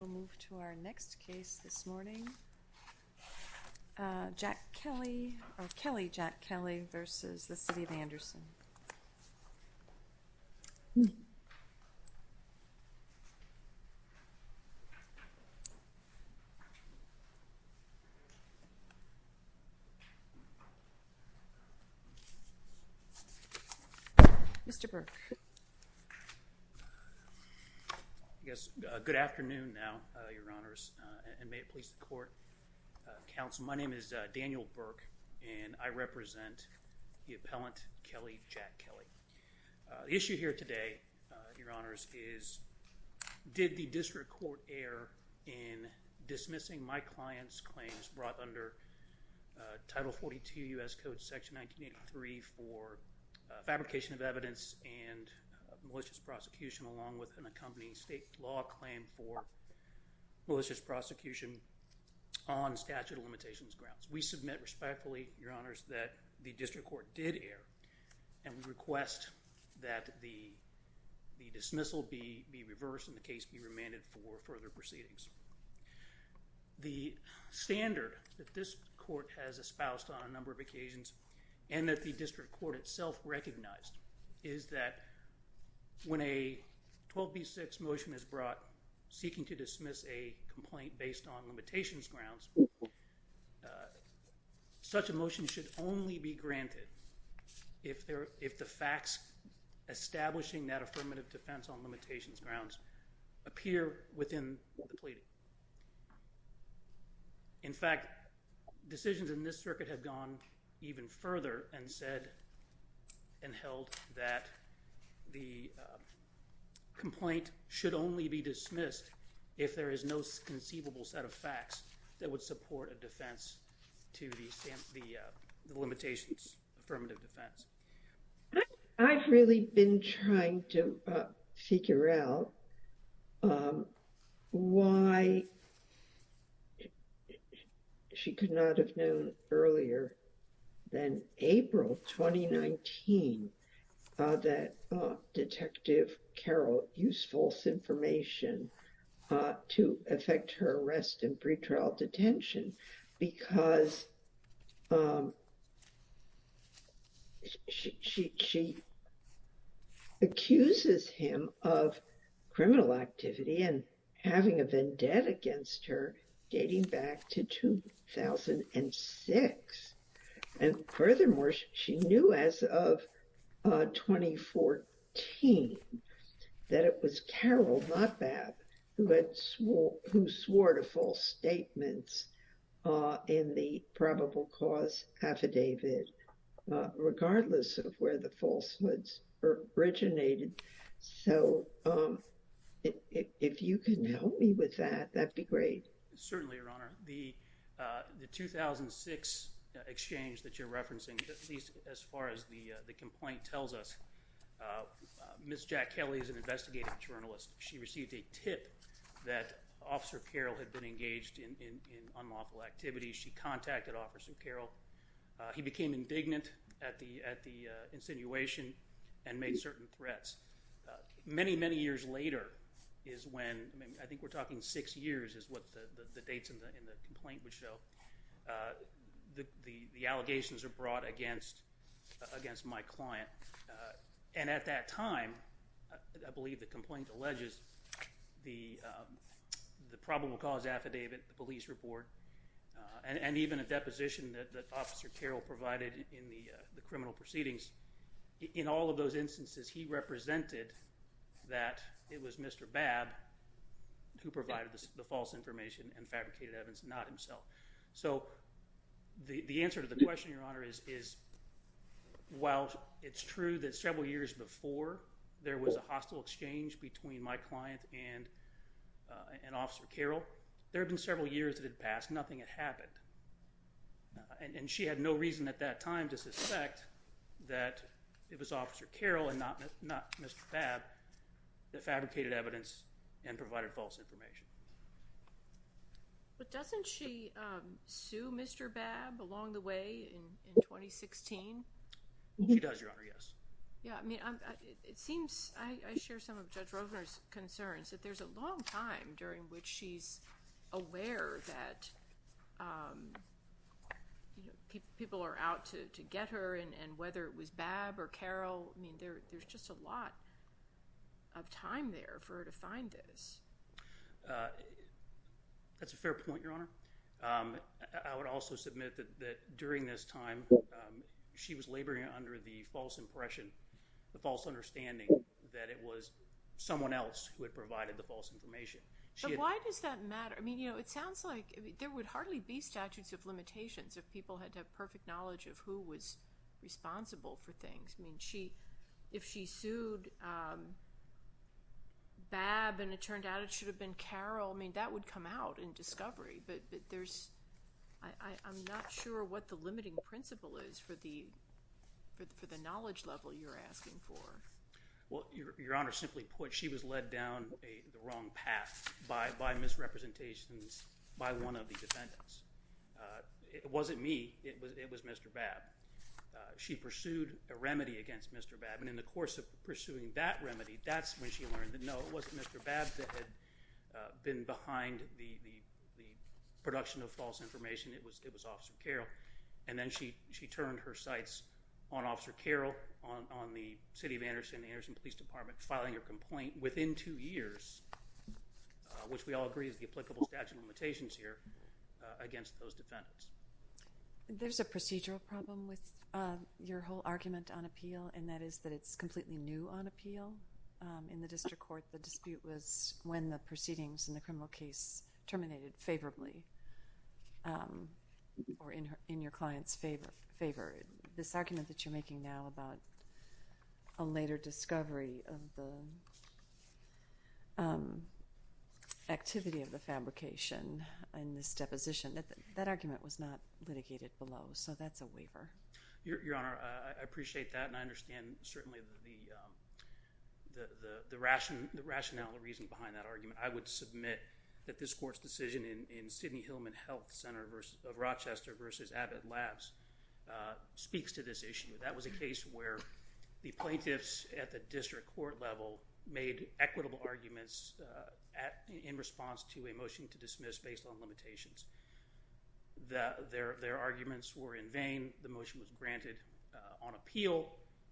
We'll move to our next case this morning, Kelly Jack-Kelly v. City of Anderson. Mr. Burke. Yes, good afternoon now, Your Honors, and may it please the court. Counsel, my name is Daniel Burke and I represent the appellant, Kelly Jack-Kelly. The issue here today, Your Honors, is did the district court err in dismissing my client's claims brought under Title 42 U.S. Code Section 1983 for fabrication of evidence and malicious prosecution along with an accompanying state law claim for malicious prosecution on statute of limitations grounds. We submit respectfully, Your Honors, that the district court did err and we request that the dismissal be reversed and the case be remanded for further proceedings. The standard that this court has espoused on a number of occasions and that the district court itself recognized is that when a 12B6 motion is brought seeking to dismiss a complaint based on limitations grounds, such a motion should only be granted if the facts establishing that affirmative defense on limitations grounds appear within the plea. In fact, decisions in this circuit have gone even further and said and held that the complaint should only be dismissed if there is no conceivable set of facts that would support a defense to the limitations affirmative defense. I've really been trying to figure out why she could not have known earlier than April 2019 that Detective Carroll used false information to affect her arrest in pretrial detention because she accuses him of criminal activity and having a vendetta against her dating back to 2006. And furthermore, she knew as of 2014 that it was Carroll, not Babb, who swore to false evidence. So, if you can help me with that, that would be great. Certainly, Your Honor. The 2006 exchange that you're referencing, as far as the complaint tells us, Ms. Jack Kelly is an investigative journalist. She received a tip that Officer Carroll had been engaged in unlawful activities. She contacted Officer Carroll. He became indignant at the insinuation and made certain threats. Many, many years later is when, I think we're talking six years is what the dates in the complaint would show, the allegations are brought against my client. And at that time, I believe the complaint alleges the problem with cause affidavit, the police report, and even a deposition that Officer Carroll provided in the criminal proceedings. In all of those instances, he represented that it was Mr. Babb who provided the false information and fabricated evidence, not himself. So, the answer to the question, Your Honor, is while it's true that several years before there was a hostile exchange between my client and Officer Carroll, there have been several years that it passed, nothing had happened. And she had no reason at that time to suspect that it was Officer Carroll and not Mr. Babb that fabricated evidence and provided false information. But doesn't she sue Mr. Babb along the way in 2016? She does, Your Honor, yes. Yeah, I mean, it seems, I share some of Judge Rosner's concerns that there's a long time during which she's aware that people are out to get her, and whether it was Babb or Carroll, I mean, there's just a lot of time there for her to find this. That's a fair point, Your Honor. I would also submit that during this time, she was laboring under the false impression, the false understanding that it was someone else who had provided the false information. But why does that matter? I mean, you know, it sounds like there would hardly be statutes of limitations if people had to have perfect knowledge of who was responsible for things. I mean, if she sued Babb and it turned out it should have been Carroll, I mean, that would come out in discovery. But there's, I'm not sure what the limiting principle is for the knowledge level you're asking for. Well, Your Honor, simply put, she was led down the wrong path by misrepresentations by one of the defendants. It wasn't me, it was Mr. Babb. She pursued a remedy against Mr. Babb, and in the course of pursuing that remedy, that's when she learned that no, it wasn't Mr. Babb that had been behind the production of false information, it was Officer Carroll. And then she turned her sights on Officer Carroll, on the city of Anderson, the Anderson Police Department, filing her complaint within two years, which we all agree is the applicable statute of limitations here, against those defendants. There's a procedural problem with your whole argument on appeal, and that is that it's completely new on appeal. In the district court, the dispute was when the proceedings in the criminal case terminated favorably, or in your client's favor. This argument that you're making now about a later discovery of the activity of the fabrication and misdeposition, that argument was not litigated below, so that's a waiver. Your Honor, I appreciate that, and I understand, certainly, the rationale, the reason behind that argument. I would submit that this court's decision in Sidney Hillman Health Center of Rochester versus Abbott Labs speaks to this issue. That was a case where the plaintiffs at the district court level made equitable arguments in response to a motion to dismiss based on limitations. Their arguments were in vain, the motion was granted on appeal,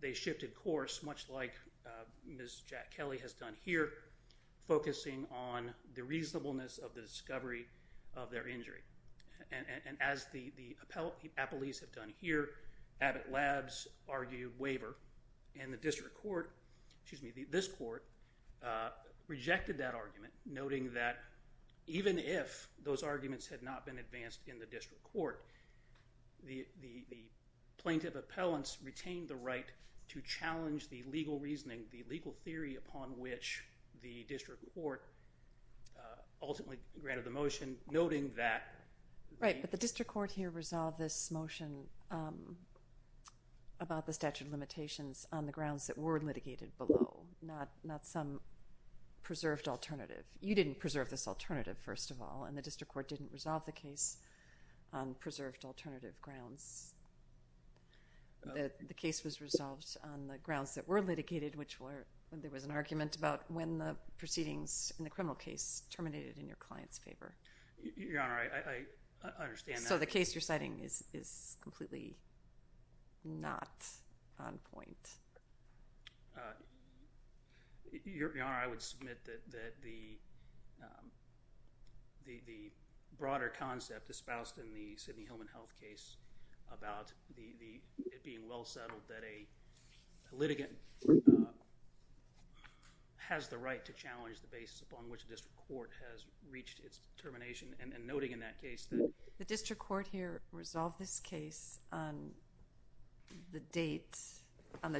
they shifted course, much like Ms. Jack Kelly has done here, focusing on the reasonableness of the discovery of their injury. As the appellees have done here, Abbott Labs argued waiver, and the district court, excuse me, this court rejected that argument, noting that even if those arguments had not been advanced in the district court, the plaintiff appellants retained the right to challenge the legal reasoning, the legal theory upon which the district court ultimately granted the motion, noting that... Right, but the district court here resolved this motion about the statute of limitations on the grounds that were litigated below, not some preserved alternative. You didn't preserve this alternative, first of all, and the district court didn't resolve the case on preserved alternative grounds. The case was resolved on the grounds that were litigated, which were, there was an argument about when the proceedings in the criminal case terminated in your client's favor. Your Honor, I understand that. So the case you're citing is completely not on point. Your Honor, I would submit that the broader concept, the statute of limitations, is not disposed in the Sidney Hillman health case about it being well settled that a litigant has the right to challenge the basis upon which the district court has reached its termination and noting in that case that... The district court here resolved this case on the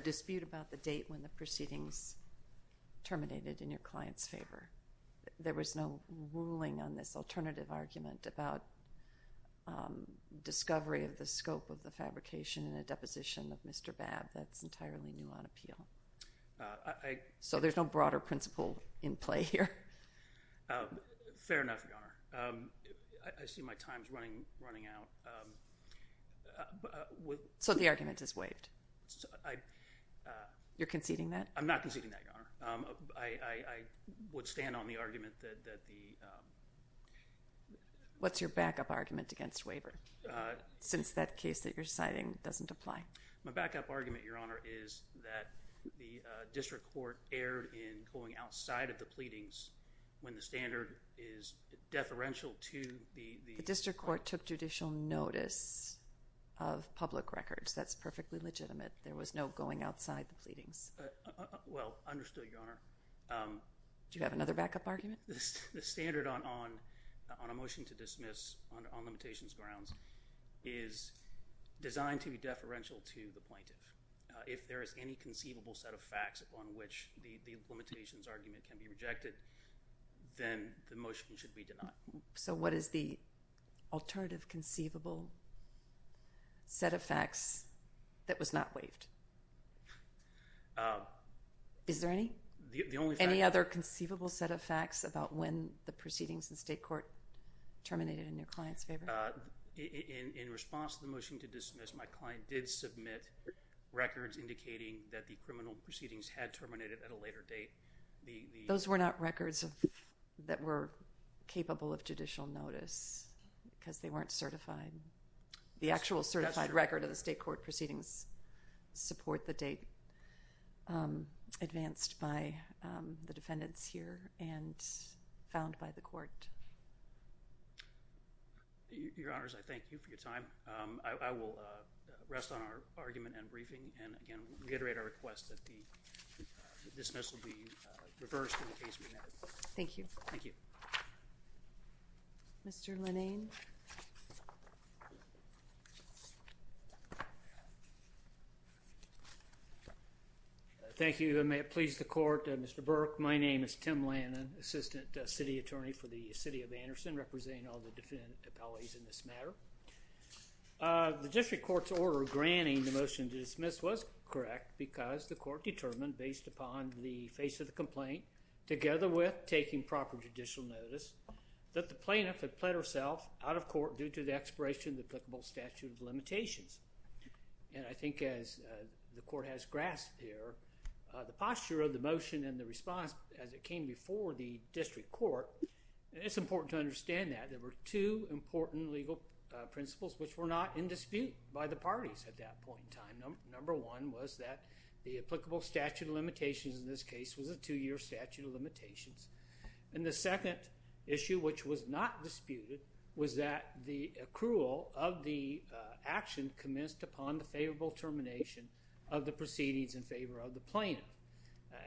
dispute about the date when the proceedings terminated in your client's favor. There was no ruling on this alternative argument about discovery of the scope of the fabrication and the deposition of Mr. Babb. That's entirely new on appeal. So there's no broader principle in play here. Fair enough, Your Honor. I see my time's running out. So the argument is waived. You're conceding that? I'm not conceding that, Your Honor. I would stand on the argument that the... What's your backup argument against waiver since that case that you're citing doesn't apply? My backup argument, Your Honor, is that the district court erred in going outside of the pleadings when the standard is deferential to the... The district court took judicial notice of public records. That's perfectly legitimate. There was no going outside the pleadings. Well, understood, Your Honor. Do you have another backup argument? The standard on a motion to dismiss on limitations grounds is designed to be deferential to the plaintiff. If there is any conceivable set of facts on which the limitations argument can be rejected, then the motion should be denied. So what is the alternative conceivable set of facts that was not waived? Is there any? The only fact... Any other conceivable set of facts about when the proceedings in state court terminated in your client's favor? In response to the motion to dismiss, my client did submit records indicating that the criminal proceedings had terminated at a later date. Those were not records that were capable of judicial notice because they weren't certified. The actual certified record of the state court proceedings support the date advanced by the defendants here and found by the court. Your Honors, I thank you for your time. I will rest on our argument and briefing and reiterate our request that the dismissal be reversed in case we need it. Thank you. Thank you. Mr. Lenane. Thank you, and may it please the court. Mr. Burke, my name is Tim Lannon, Assistant City Attorney for the City of Anderson, representing all the defendant appellees in this matter. The district court's order granting the motion to dismiss was correct because the court determined based upon the face of the complaint, together with taking proper judicial notice, that the plaintiff had pled herself out of court due to the expiration of the applicable statute of limitations. And I think as the court has grasped here, the posture of the motion and the response as it came before the district court, it's important to understand that there were two important legal principles which were not in dispute by the parties at that point in time. Number one was that the applicable statute of limitations in this case was a two-year statute of limitations. And the second issue which was not disputed was that the accrual of the action commenced upon the favorable termination of the proceedings in favor of the plaintiff.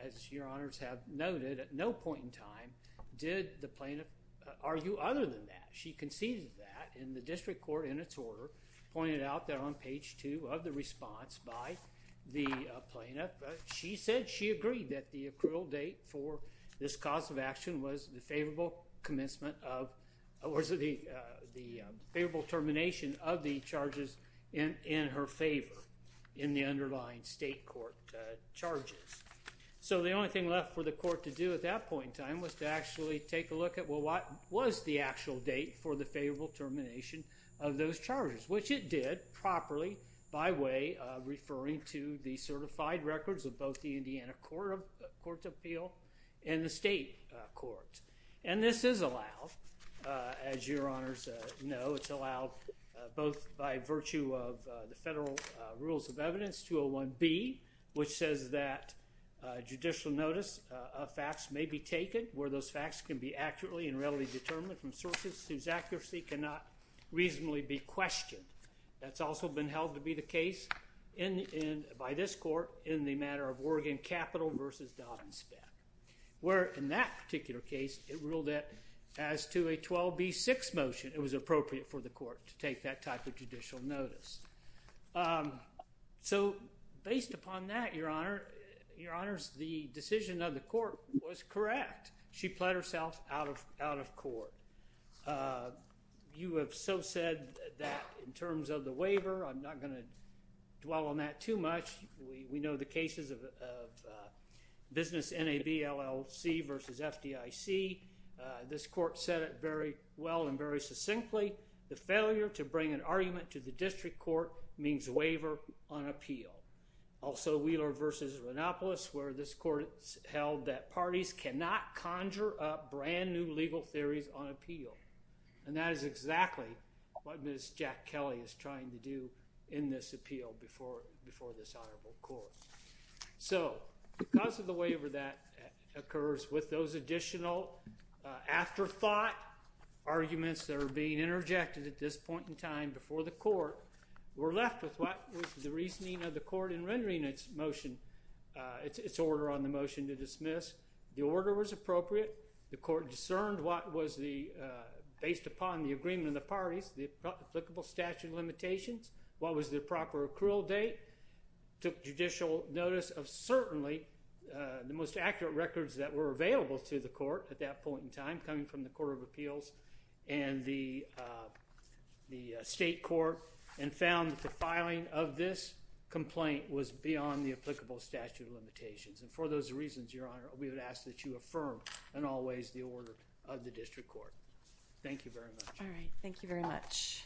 As Your Honors have noted, at no point in time did the plaintiff argue other than that. She conceded that in the district court in its order, pointed out that on page two of the response by the plaintiff, she said she agreed that the accrual date for this cause of action was the favorable termination of the charges in her favor in the underlying state court charges. So the only thing left for the court to do at that point in time was to actually take a look at what was the actual date for the favorable termination of those charges, which it did properly by way of referring to the certified records of both the Indiana Court of Appeal and the state court. And this is allowed, as Your Honors know, it's allowed both by virtue of the federal rules of evidence 201B, which says that judicial notice of facts may be taken where those facts can be accurately and readily determined from sources whose accuracy cannot reasonably be questioned. That's also been held to be the case by this court in the matter of Oregon Capital versus Dodd and Spence, where in that particular case, it ruled that as to a 12B6 motion, it was appropriate for the court to take that type of judicial notice. So based upon that, Your Honors, the decision of the court was correct. She pled herself out of court. You have so said that in terms of the waiver, I'm not going to dwell on that too much. We know the cases of business NAB LLC versus FDIC. This court said it very well and very succinctly. The failure to bring an argument to the district court means waiver on appeal. Also, Wheeler versus Ranopolis, where this court held that parties cannot conjure up brand new legal theories on appeal. And that is exactly what Ms. Jack Kelly is trying to do in this appeal before this honorable court. So because of the waiver that occurs with those additional afterthought arguments that are being interjected at this point in time before the court, we're left with what the reasoning of the court in rendering its order on the motion to dismiss. The order was appropriate. The court discerned what was based upon the agreement of the parties, the applicable statute limitations, what was the proper accrual date, took judicial notice of certainly the most accurate records that were available to the court at that point in time coming from the district court. This complaint was beyond the applicable statute of limitations. And for those reasons, Your Honor, we would ask that you affirm in all ways the order of the district court. Thank you very much. All right. Thank you very much.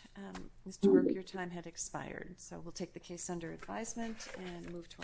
Mr. Werk, your time had expired. So we'll take the case under advisement and move to our next hearing.